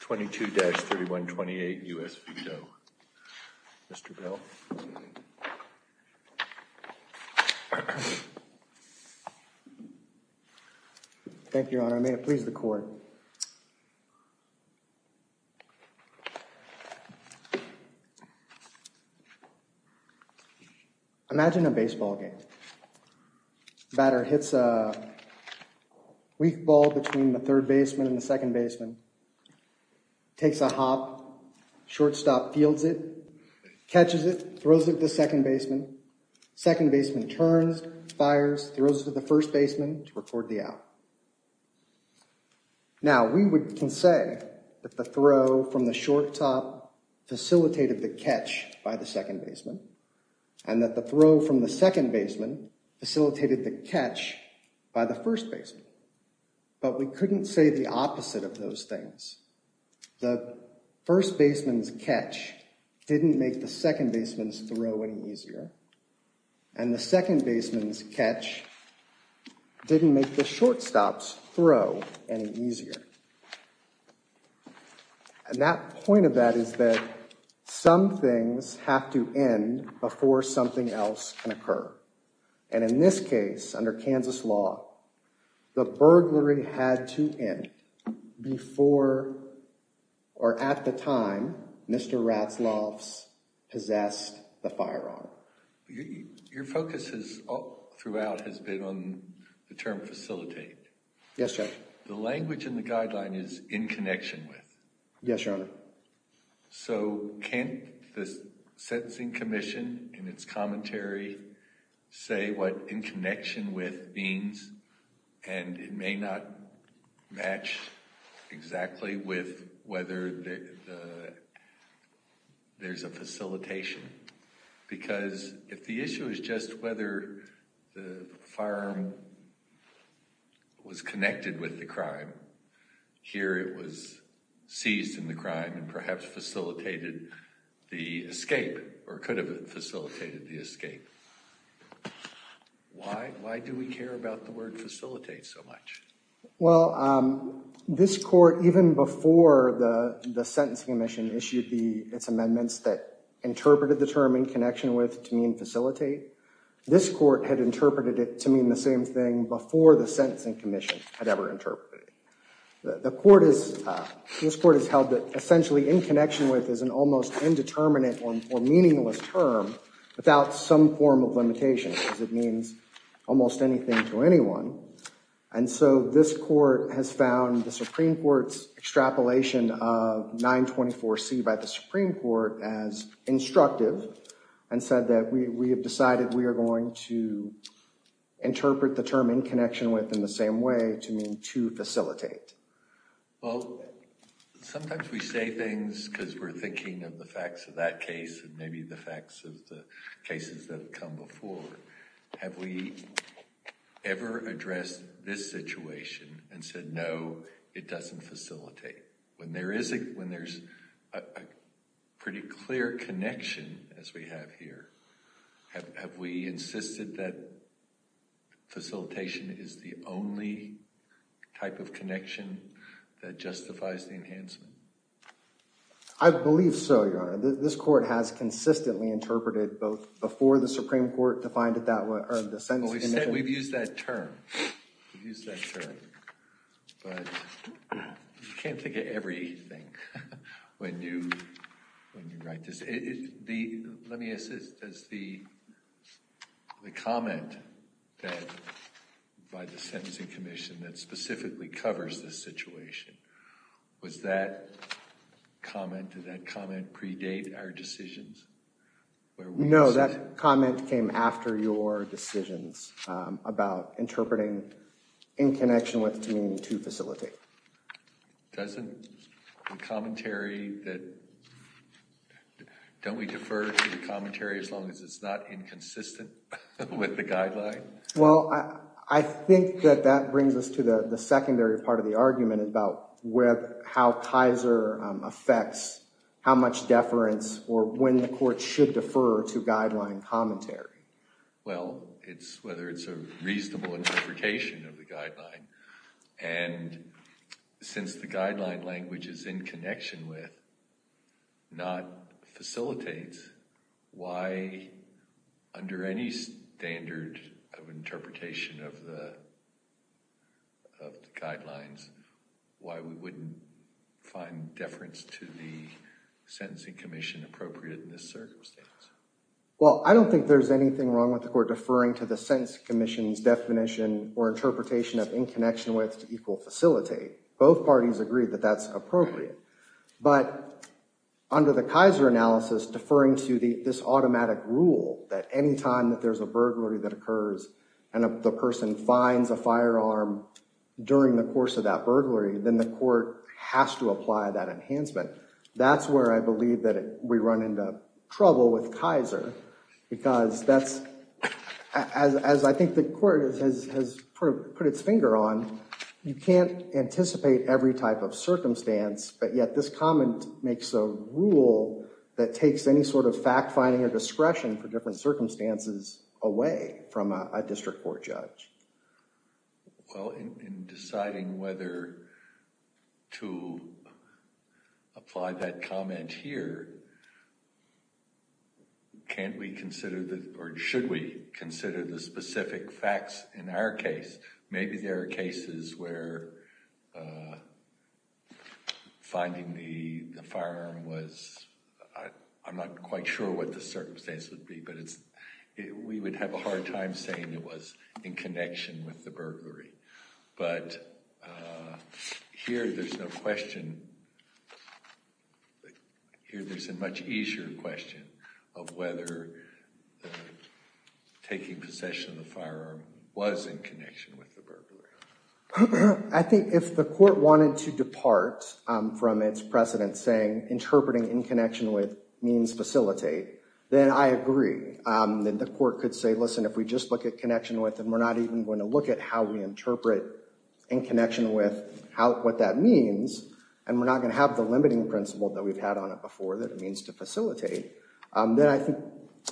22-3128 U.S. v. Doe. Mr. Bell. Thank you, Your Honor. May it please the Court. Imagine a baseball game. The batter hits a weak ball between the third baseman and the second baseman, takes a hop, shortstop fields it, catches it, throws it to the second baseman, second baseman turns, fires, throws it to the first baseman to record the out. Now, we can say that the throw from the short top facilitated the catch by the second baseman and that the throw from the second baseman facilitated the catch by the first baseman, but we couldn't say the opposite of those things. The first baseman's catch didn't make the second baseman's throw any easier and the second baseman's catch didn't make the shortstop's throw any easier. And that point of that is that some things have to end before something else can occur. And in this case, under Kansas law, the burglary had to end before, or at the time, Mr. Ratzlaff's possessed the firearm. Your focus throughout has been on the term facilitate. Yes, Your Honor. The language in the guideline is in connection with. Yes, Your Honor. So can't the Sentencing Commission, in its commentary, say what in connection with means? And it may not match exactly with whether there's a facilitation. Because if the issue is just whether the firearm was connected with the crime, here it was seized in the crime and perhaps facilitated the escape, or could have facilitated the escape. Why do we care about the word facilitate so much? Well, this court, even before the Sentencing Commission issued its amendments that interpreted the term in connection with to mean facilitate, this court had interpreted it to mean the same thing before the Sentencing Commission had ever interpreted it. This court has held that essentially in connection with is an almost indeterminate or meaningless term without some form of limitation, because it means almost anything to anyone. And so this court has found the Supreme Court's extrapolation of 924C by the Supreme Court as instructive and said that we have decided we are going to to facilitate. Well, sometimes we say things because we're thinking of the facts of that case, and maybe the facts of the cases that have come before. Have we ever addressed this situation and said, no, it doesn't facilitate? When there is a pretty clear connection, as we have here, have we insisted that facilitation is the only type of connection that justifies the enhancement? I believe so, Your Honor. This court has consistently interpreted both before the Supreme Court defined it that way. Well, we've said we've used that term. We've used that term. But you can't think of everything when you write this. Let me ask this. Does the comment by the Sentencing Commission that specifically covers this situation, was that comment, did that comment predate our decisions? No, that comment came after your decisions about interpreting in connection with to mean to facilitate. Doesn't the commentary that, don't we defer to the commentary as long as it's not inconsistent with the guideline? Well, I think that that brings us to the secondary part of the argument about how Tizer affects how much deference or when the court should defer to guideline commentary. Well, it's whether it's a reasonable interpretation of the guideline. And since the guideline language is in connection with, not facilitates, why under any standard of interpretation of the guidelines, why we wouldn't find deference to the Sentencing Commission appropriate in this circumstance? Well, I don't think there's anything wrong with the court deferring to the connection with to equal facilitate. Both parties agree that that's appropriate. But under the Tizer analysis, deferring to this automatic rule that any time that there's a burglary that occurs and the person finds a firearm during the course of that burglary, then the court has to apply that enhancement. That's where I believe that we run into trouble with Tizer, because that's, as I think the court has put its finger on, you can't anticipate every type of circumstance, but yet this comment makes a rule that takes any sort of fact-finding or discretion for different circumstances away from a district court judge. Well, in deciding whether to apply that comment here, can't we consider, or should we consider the specific facts in our case? Maybe there are cases where finding the firearm was, I'm not quite sure what the circumstance would be, but we would have a hard time saying it was in connection with the burglary. But here there's no question. But here there's a much easier question of whether taking possession of the firearm was in connection with the burglary. I think if the court wanted to depart from its precedent saying interpreting in connection with means facilitate, then I agree. Then the court could say, listen, if we just look at connection with, and we're not even going to look at how we interpret in connection with what that means, and we're not going to have the limiting principle that we've had on it before that it means to facilitate, then I think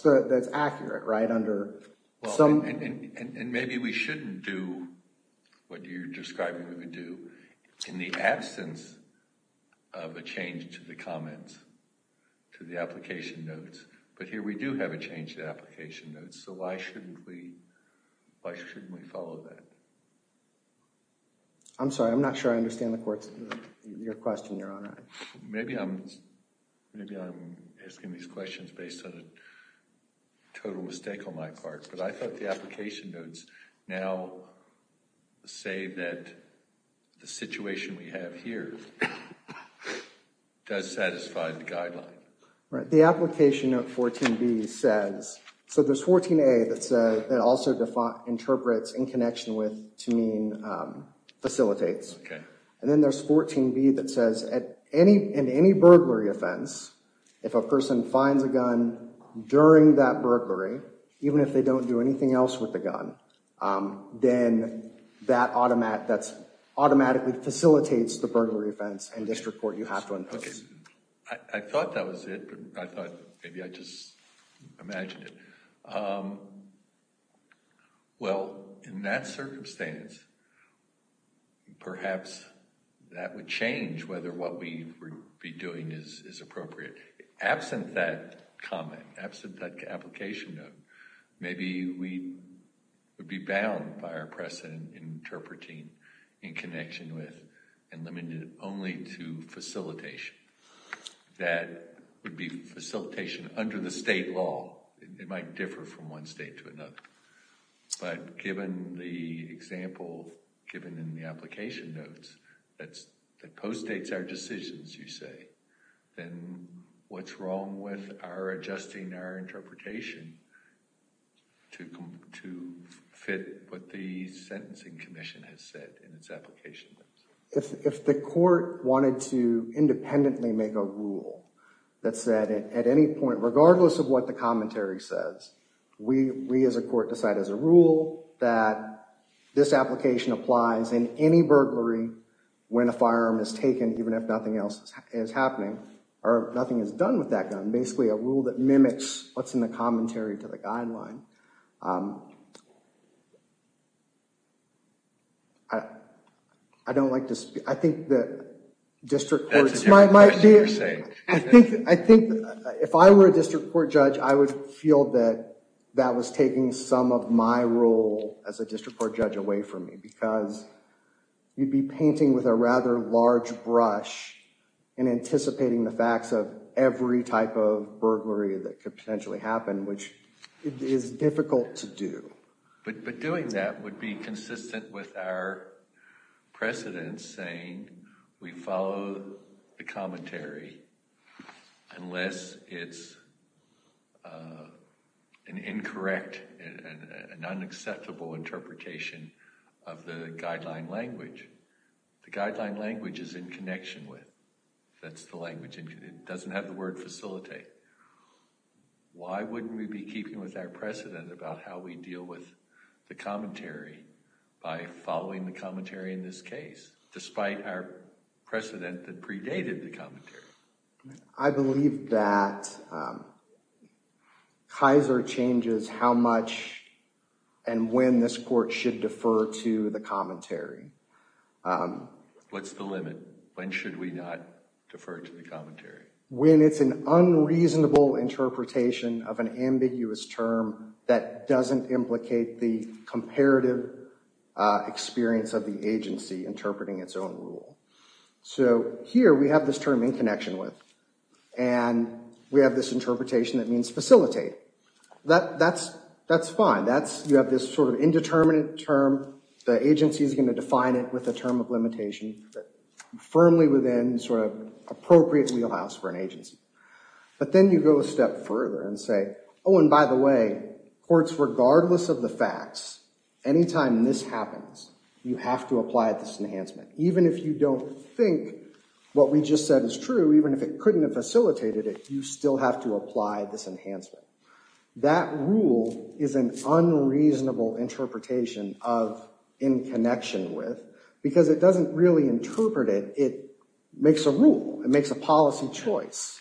that's accurate, right? And maybe we shouldn't do what you're describing we would do in the absence of a change to the comments to the application notes. But here we do have a change to the application notes, so why shouldn't we follow that? I'm sorry, I'm not sure I understand your question, Your Honor. Maybe I'm asking these questions based on a total mistake on my part, but I thought the application notes now say that the situation we have here does satisfy the guideline. Right, the application note 14b says, so there's 14a that also interprets in connection with to mean facilitates. And then there's 14b that says in any burglary offense, if a person finds a gun during that burglary, even if they don't do anything else with the gun, then that automatically facilitates the burglary offense and district court you have to impose. I thought that was it, but I thought maybe I just imagined it. Um, well, in that circumstance, perhaps that would change whether what we would be doing is appropriate. Absent that comment, absent that application note, maybe we would be bound by our precedent interpreting in connection with and limited only to facilitation. That would be facilitation under the state law. It might differ from one state to another, but given the example given in the application notes, that postdates our decisions, you say, then what's wrong with our adjusting our interpretation to fit what the sentencing commission has said in its application notes? If the court wanted to independently make a rule that said at any point, regardless of what the commentary says, we as a court decide as a rule that this application applies in any burglary when a firearm is taken, even if nothing else is happening, or nothing is done with that gun. Basically, a rule that mimics what's in the commentary to the guideline. I don't like to speak. I think that district courts might be, I think if I were a district court judge, I would feel that that was taking some of my role as a district court judge away from me because you'd be painting with a rather large brush and anticipating the facts of every type of burglary that could potentially happen, which is difficult to do. But doing that would be consistent with our precedent saying we follow the commentary unless it's an incorrect and unacceptable interpretation of the guideline language. The guideline language is in connection with. That's the language. It doesn't have the word facilitate. Why wouldn't we be keeping with our precedent about how we deal with the commentary by following the commentary in this case? Despite our precedent that predated the commentary. I believe that Kaiser changes how much and when this court should defer to the commentary. What's the limit? When should we not defer to the commentary? When it's an unreasonable interpretation of an ambiguous term that doesn't implicate the comparative experience of the agency interpreting its own rule. So here we have this term in connection with and we have this interpretation that means facilitate. That's fine. You have this sort of indeterminate term. The agency is going to define it with a term of limitation firmly within sort of appropriate wheelhouse for an agency. But then you go a step further and say, oh, and by the way, courts, regardless of the facts, anytime this happens, you have to apply this enhancement. Even if you don't think what we just said is true, even if it couldn't have facilitated it, you still have to apply this enhancement. That rule is an unreasonable interpretation of in connection with because it doesn't really interpret it. It makes a rule. It makes a policy choice.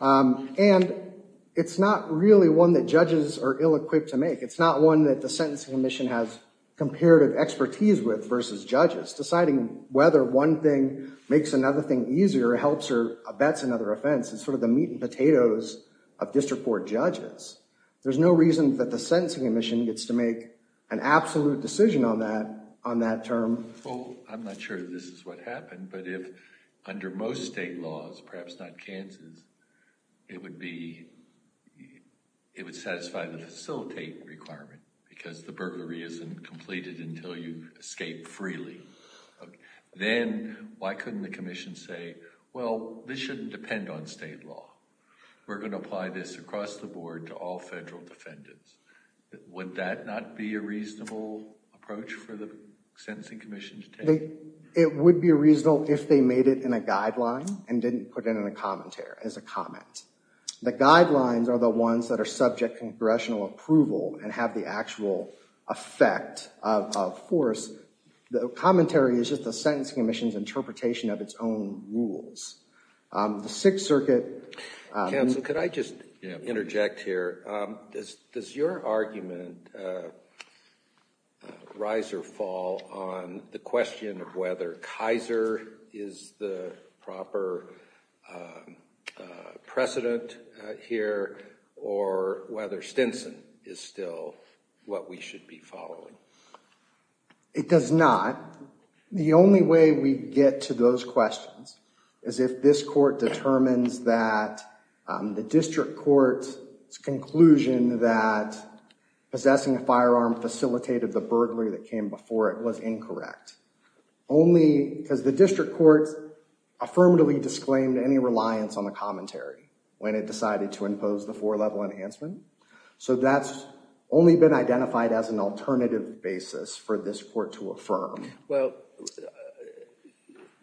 And it's not really one that judges are ill-equipped to make. It's not one that the Sentencing Commission has comparative expertise with versus judges. Deciding whether one thing makes another thing easier helps or abets another offense is sort of the meat and potatoes of district court judges. There's no reason that the Sentencing Commission gets to make an absolute decision on that term. Well, I'm not sure this is what happened, but if under most state laws, perhaps not Kansas, it would satisfy the facilitate requirement because the burglary isn't completed until you escape freely. Then why couldn't the commission say, well, this shouldn't depend on state law? We're going to apply this across the board to all federal defendants. Would that not be a reasonable approach for the Sentencing Commission to take? It would be reasonable if they made it in a guideline and didn't put it in a commentary. It's a comment. The guidelines are the ones that are subject to congressional approval and have the actual effect of force. The commentary is just the Sentencing Commission's interpretation of its own rules. The Sixth Circuit- Counsel, could I just interject here? Does your argument rise or fall on the question of whether Kaiser is the proper precedent here or whether Stinson is still what we should be following? It does not. The only way we get to those questions is if this court determines that the district court's conclusion that possessing a firearm facilitated the burglary that came before it was incorrect. Only because the district court affirmatively disclaimed any reliance on the commentary when it decided to impose the four-level enhancement. So that's only been identified as an alternative basis for this court to affirm. Well,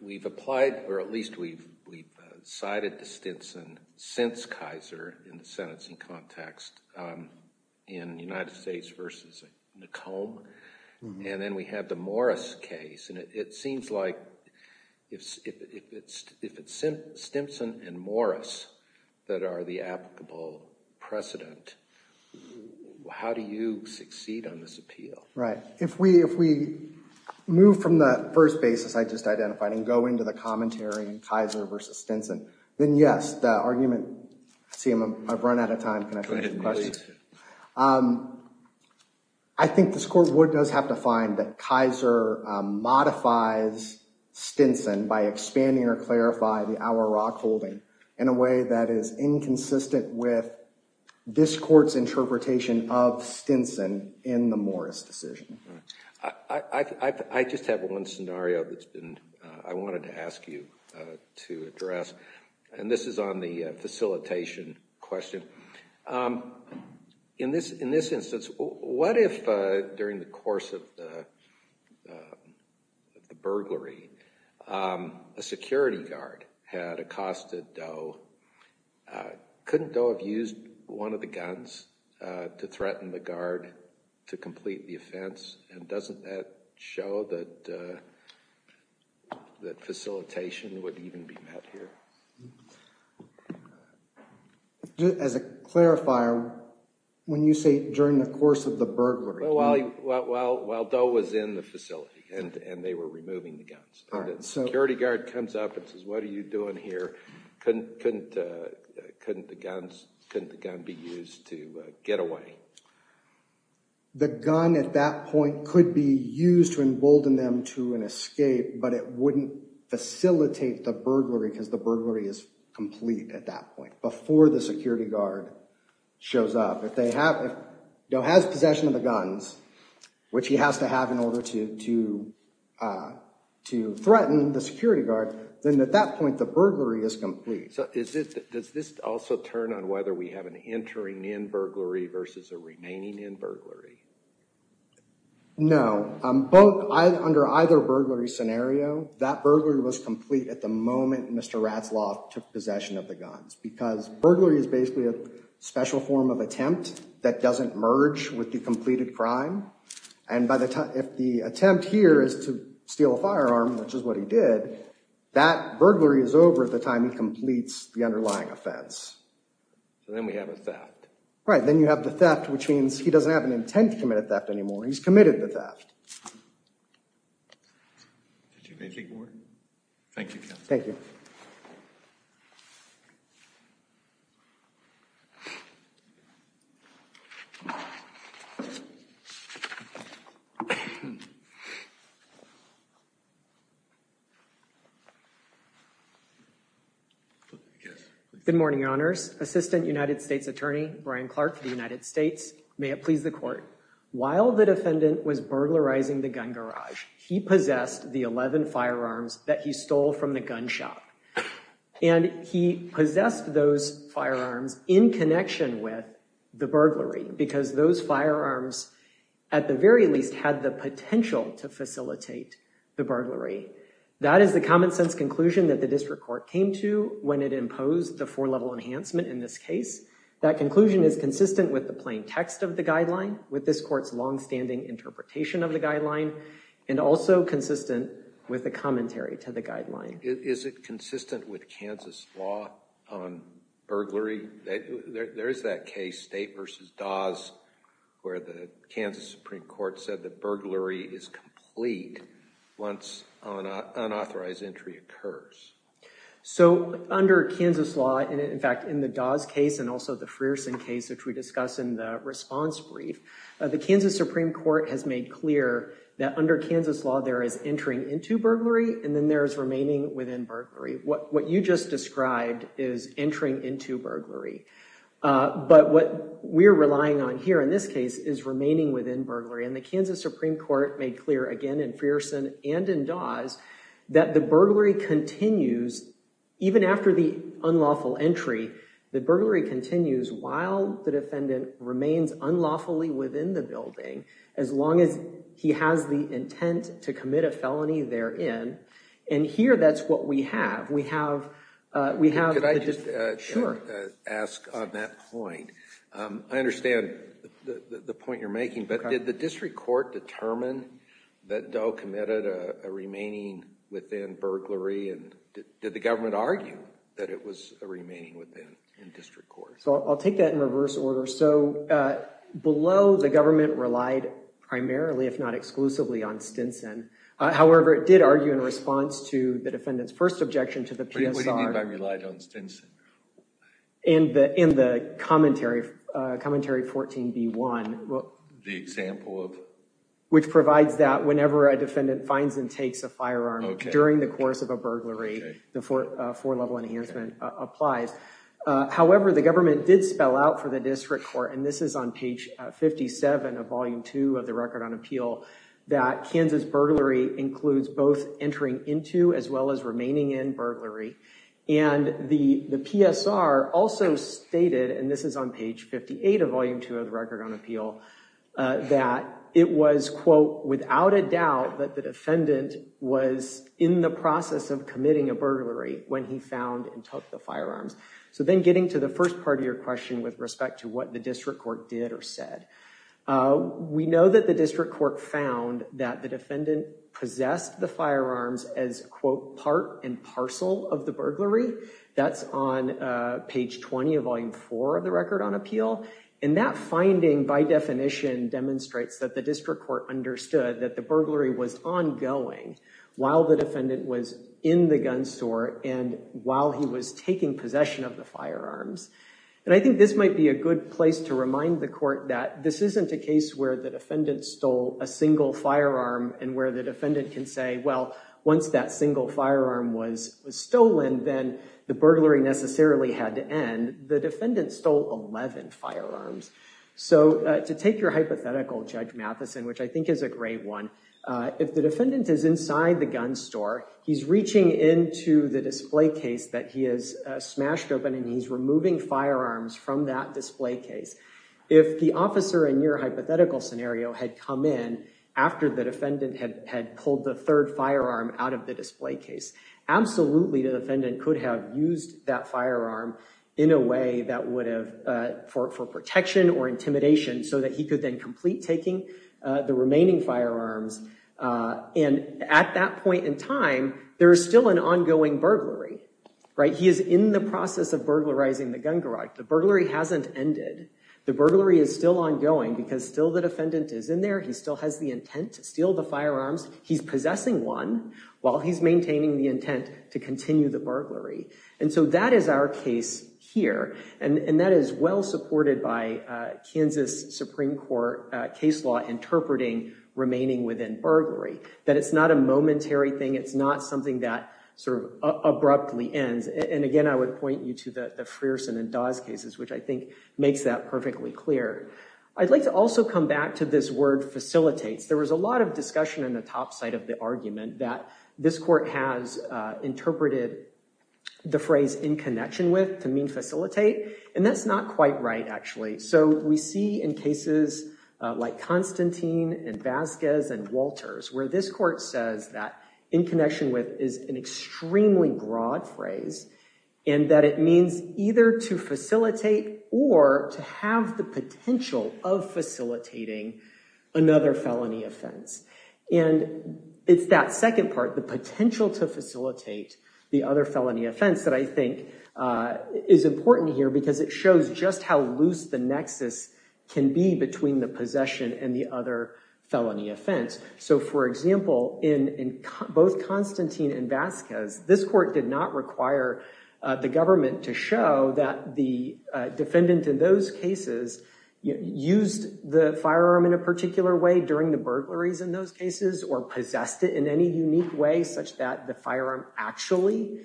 we've applied, or at least we've cited the Stinson since Kaiser in the sentencing context in United States v. McComb. And then we have the Morris case. And it seems like if it's Stinson and Morris that are the applicable precedent, how do you succeed on this appeal? Right. If we move from the first basis I just identified and go into the commentary, Kaiser v. Stinson, then yes, the argument- CM, I've run out of time. I think this court would just have to find that Kaiser modifies Stinson by expanding or clarify the Auerrock holding in a way that is inconsistent with this court's interpretation of Stinson in the Morris decision. I just have one scenario that I wanted to ask you to address. And this is on the facilitation question. In this instance, what if during the course of the burglary, a security guard had accosted Doe? Couldn't Doe have used one of the guns to threaten the guard to complete the offense? And doesn't that show that facilitation would even be met here? As a clarifier, when you say during the course of the burglary- While Doe was in the facility and they were removing the guns. Security guard comes up and says, what are you doing here? Couldn't the gun be used to get away? The gun at that point could be used to embolden them to an escape, but it wouldn't facilitate the burglary because the burglary is complete at that point, before the security guard shows up. If Doe has possession of the guns, which he has to have in order to threaten the security guard, then at that point, the burglary is complete. So does this also turn on whether we have an entering in burglary versus a remaining in burglary? No, under either burglary scenario, that burglary was complete at the moment Mr. Ratzlaff took possession of the guns. Because burglary is basically a special form of attempt that doesn't merge with the completed crime. And if the attempt here is to steal a firearm, which is what he did, that burglary is over at the time he completes the underlying offense. So then we have a theft. Right, then you have the theft, which means he doesn't have an intent to commit a theft anymore. He's committed the theft. Did you have anything more? Thank you, counsel. Thank you. I guess. Good morning, Your Honors. Assistant United States Attorney Brian Clark for the United States. May it please the court. While the defendant was burglarizing the gun garage, he possessed the 11 firearms that he stole from the gun shop. And he possessed those firearms in connection with the burglary because those firearms, at the very least, had the potential to facilitate the burglary. That is the common sense conclusion that the district court came to when it imposed the four-level enhancement in this case. That conclusion is consistent with the plain text of the guideline, with this court's long-standing interpretation of the guideline, and also consistent with the commentary to the guideline. Is it consistent with Kansas law on burglary? There is that case, State v. Dawes, where the Kansas Supreme Court said that burglary is complete once an unauthorized entry occurs. So under Kansas law, and in fact, in the Dawes case, and also the Frierson case, which we discuss in the response brief, the Kansas Supreme Court has made clear that under Kansas law, there is entering into burglary, and then there is remaining within burglary. What you just described is entering into burglary. But what we're relying on here in this case is remaining within burglary. And the Kansas Supreme Court made clear, again, in Frierson and in Dawes, that the burglary continues even after the unlawful entry. The burglary continues while the defendant remains unlawfully within the building as long as he has the intent to commit a felony therein. And here, that's what we have. We have, we have... Could I just ask on that point? I understand the point you're making, but did the district court determine that Doe committed a remaining within burglary? And did the government argue that it was a remaining within district court? So I'll take that in reverse order. So below, the government relied primarily, if not exclusively, on Stinson. However, it did argue in response to the defendant's first objection to the PSR. What do you mean by relied on Stinson? In the commentary, commentary 14b-1. The example of? Which provides that whenever a defendant finds and takes a firearm during the course of a burglary, the four-level enhancement applies. However, the government did spell out for the district court, and this is on page 57 of volume two of the record on appeal, that Kansas burglary includes both entering into as well as remaining in burglary. And the PSR also stated, and this is on page 58 of volume two of the record on appeal, that it was, quote, without a doubt that the defendant was in the process of committing a burglary when he found and took the firearms. So then getting to the first part of your question with respect to what the district court did or said. Uh, we know that the district court found that the defendant possessed the firearms as, quote, part and parcel of the burglary. That's on, uh, page 20 of volume four of the record on appeal. And that finding, by definition, demonstrates that the district court understood that the burglary was ongoing while the defendant was in the gun store and while he was taking possession of the firearms. And I think this might be a good place to remind the court that this isn't a case where the defendant stole a single firearm and where the defendant can say, well, once that single firearm was stolen, then the burglary necessarily had to end. The defendant stole 11 firearms. So, uh, to take your hypothetical, Judge Matheson, which I think is a great one, uh, if the defendant is inside the gun store, he's reaching into the display case that he has smashed open and he's removing firearms from that display case, if the officer in your hypothetical scenario had come in after the defendant had pulled the third firearm out of the display case, absolutely the defendant could have used that firearm in a way that would have, uh, for protection or intimidation so that he could then complete taking, uh, the remaining firearms. Uh, and at that point in time, there is still an ongoing burglary, right? He is in the process of burglarizing the gun garage. The burglary hasn't ended. The burglary is still ongoing because still the defendant is in there. He still has the intent to steal the firearms. He's possessing one while he's maintaining the intent to continue the burglary. And so that is our case here. And that is well supported by, uh, Kansas Supreme Court case law interpreting remaining within burglary, that it's not a momentary thing. It's not something that sort of abruptly ends. And again, I would point you to the Frierson and Dawes cases, which I think makes that perfectly clear. I'd like to also come back to this word facilitates. There was a lot of discussion in the top side of the argument that this court has, uh, interpreted the phrase in connection with to mean facilitate. And that's not quite right, actually. So we see in cases, uh, like Constantine and Vasquez and Walters, where this court says that in connection with is an extremely broad phrase and that it means either to facilitate or to have the potential of facilitating another felony offense. And it's that second part, the potential to facilitate the other felony offense that I think, uh, is important here because it shows just how loose the nexus can be between the possession and the other felony offense. So for example, in both Constantine and Vasquez, this court did not require the government to show that the defendant in those cases used the firearm in a particular way during the burglaries in those cases or possessed it in any unique way such that the firearm actually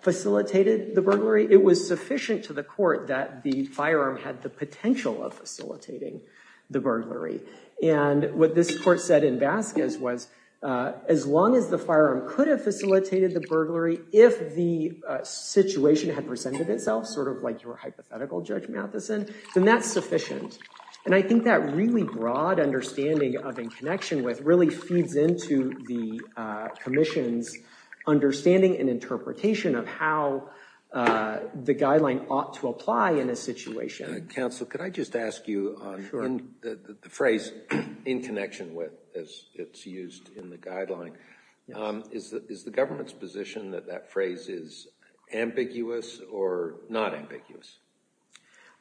facilitated the burglary. It was sufficient to the court that the firearm had the potential of facilitating the burglary. And what this court said in Vasquez was, as long as the firearm could have facilitated the burglary if the situation had presented itself, sort of like your hypothetical, Judge Matheson, then that's sufficient. And I think that really broad understanding of in connection with really feeds into the commission's understanding and interpretation of how the guideline ought to apply in a situation. Counsel, could I just ask you on the phrase in connection with, as it's used in the guideline, is the government's position that that phrase is ambiguous or not ambiguous?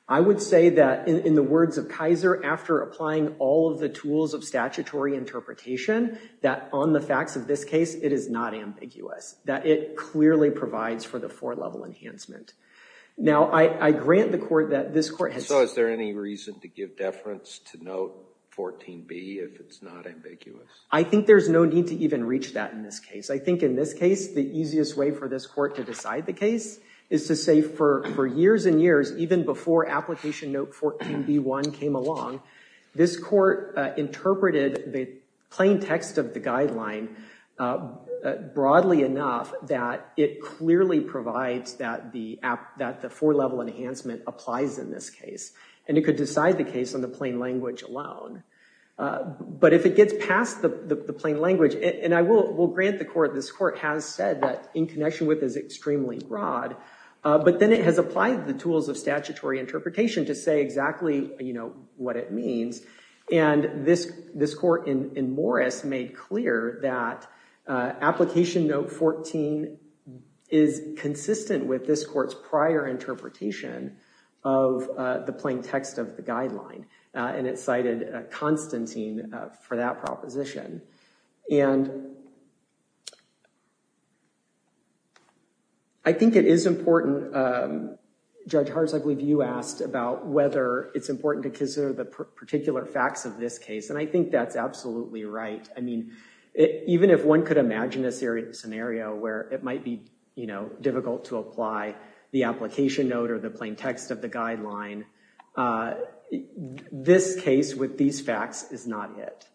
I would say that in the words of Kaiser, after applying all of the tools of statutory interpretation, that on the facts of this case, it is not ambiguous. That it clearly provides for the four-level enhancement. Now, I grant the court that this court has... So is there any reason to give deference to note 14b if it's not ambiguous? I think there's no need to even reach that in this case. I think in this case, the easiest way for this court to decide the case is to say for years and years, even before application note 14b1 came along, this court interpreted the plain text of the guideline broadly enough that it clearly provides that the four-level enhancement applies in this case. And it could decide the case on the plain language alone. But if it gets past the plain language, and I will grant the court, this court has said that in connection with is extremely broad, but then it has applied the tools of statutory interpretation to say exactly what it means. And this court in Morris made clear that application note 14 is consistent with this court's prior interpretation of the plain text of the guideline. And it cited Constantine for that proposition. And I think it is important, Judge Hartz, I believe you asked about whether it's important to consider the particular facts of this case. And I think that's absolutely right. I mean, even if one could imagine a scenario where it might be difficult to apply the application note or the plain text of the guideline, this case with these facts is not it.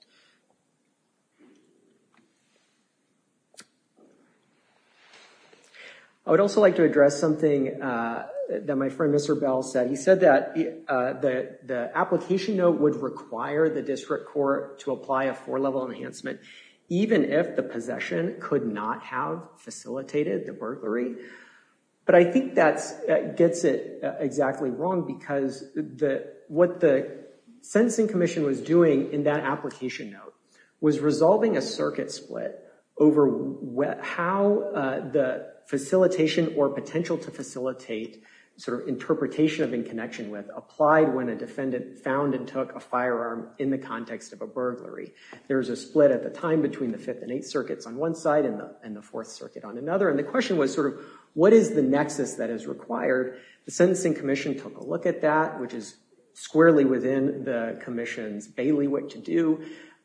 I would also like to address something that my friend Mr. Bell said. He said that the application note would require the district court to apply a four-level enhancement, even if the possession could not have facilitated the burglary. But I think that gets it exactly wrong because what the Sentencing Commission was doing in that application note was resolving a circuit split over how the facilitation or potential to facilitate sort of interpretation of in connection with applied when a defendant found and took a firearm in the context of a burglary. There's a split at the time between the Fifth and Eighth Circuits on one side and the Fourth Circuit on another. And the question was sort of what is the nexus that is required? The Sentencing Commission took a look at that, which is squarely within the commission's bailiwick to do.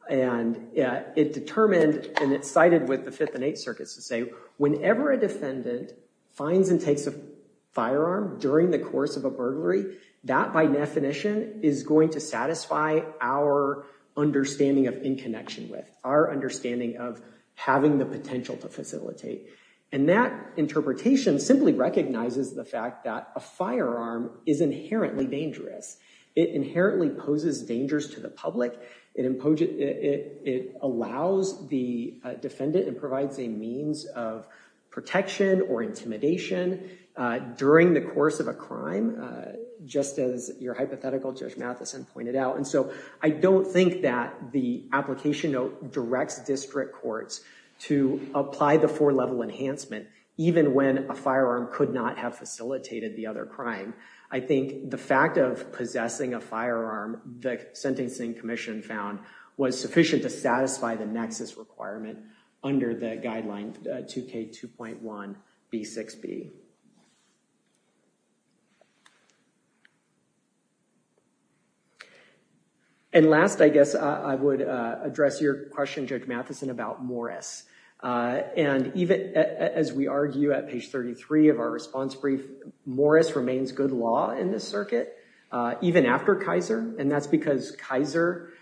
And it determined and it sided with the Fifth and Eighth Circuits to say whenever a defendant finds and takes a firearm during the course of a burglary, that by definition is going to satisfy our understanding of in connection with, our understanding of having the potential to facilitate. And that interpretation simply recognizes the fact that a firearm is inherently dangerous. It inherently poses dangers to the public. It allows the defendant and provides a means of protection or intimidation during the course of a crime, just as your hypothetical Judge Matheson pointed out. And so I don't think that the application note directs district courts to apply the four level enhancement, even when a firearm could not have facilitated the other crime. I think the fact of possessing a firearm, the Sentencing Commission found was sufficient to satisfy the nexus requirement under the guideline 2K2.1B6B. And last, I guess, I would address your question, Judge Matheson, about Morris. And even as we argue at page 33 of our response brief, Morris remains good law in this circuit, even after Kaiser. And that's because Kaiser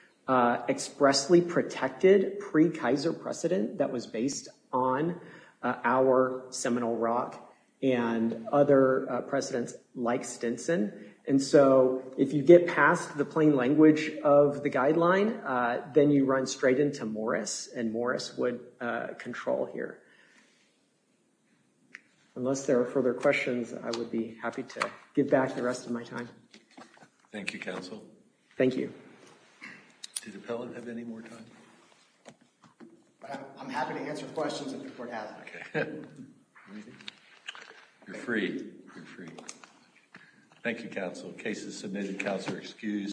expressly protected pre-Kaiser precedent that was based on our seminal rock in the case of Morris. And other precedents like Stinson. And so if you get past the plain language of the guideline, then you run straight into Morris, and Morris would control here. Unless there are further questions, I would be happy to give back the rest of my time. Thank you, counsel. Thank you. Did Appellant have any more time? I'm happy to answer questions if the court has. You're free. Thank you, counsel. Case is submitted. Counsel are excused.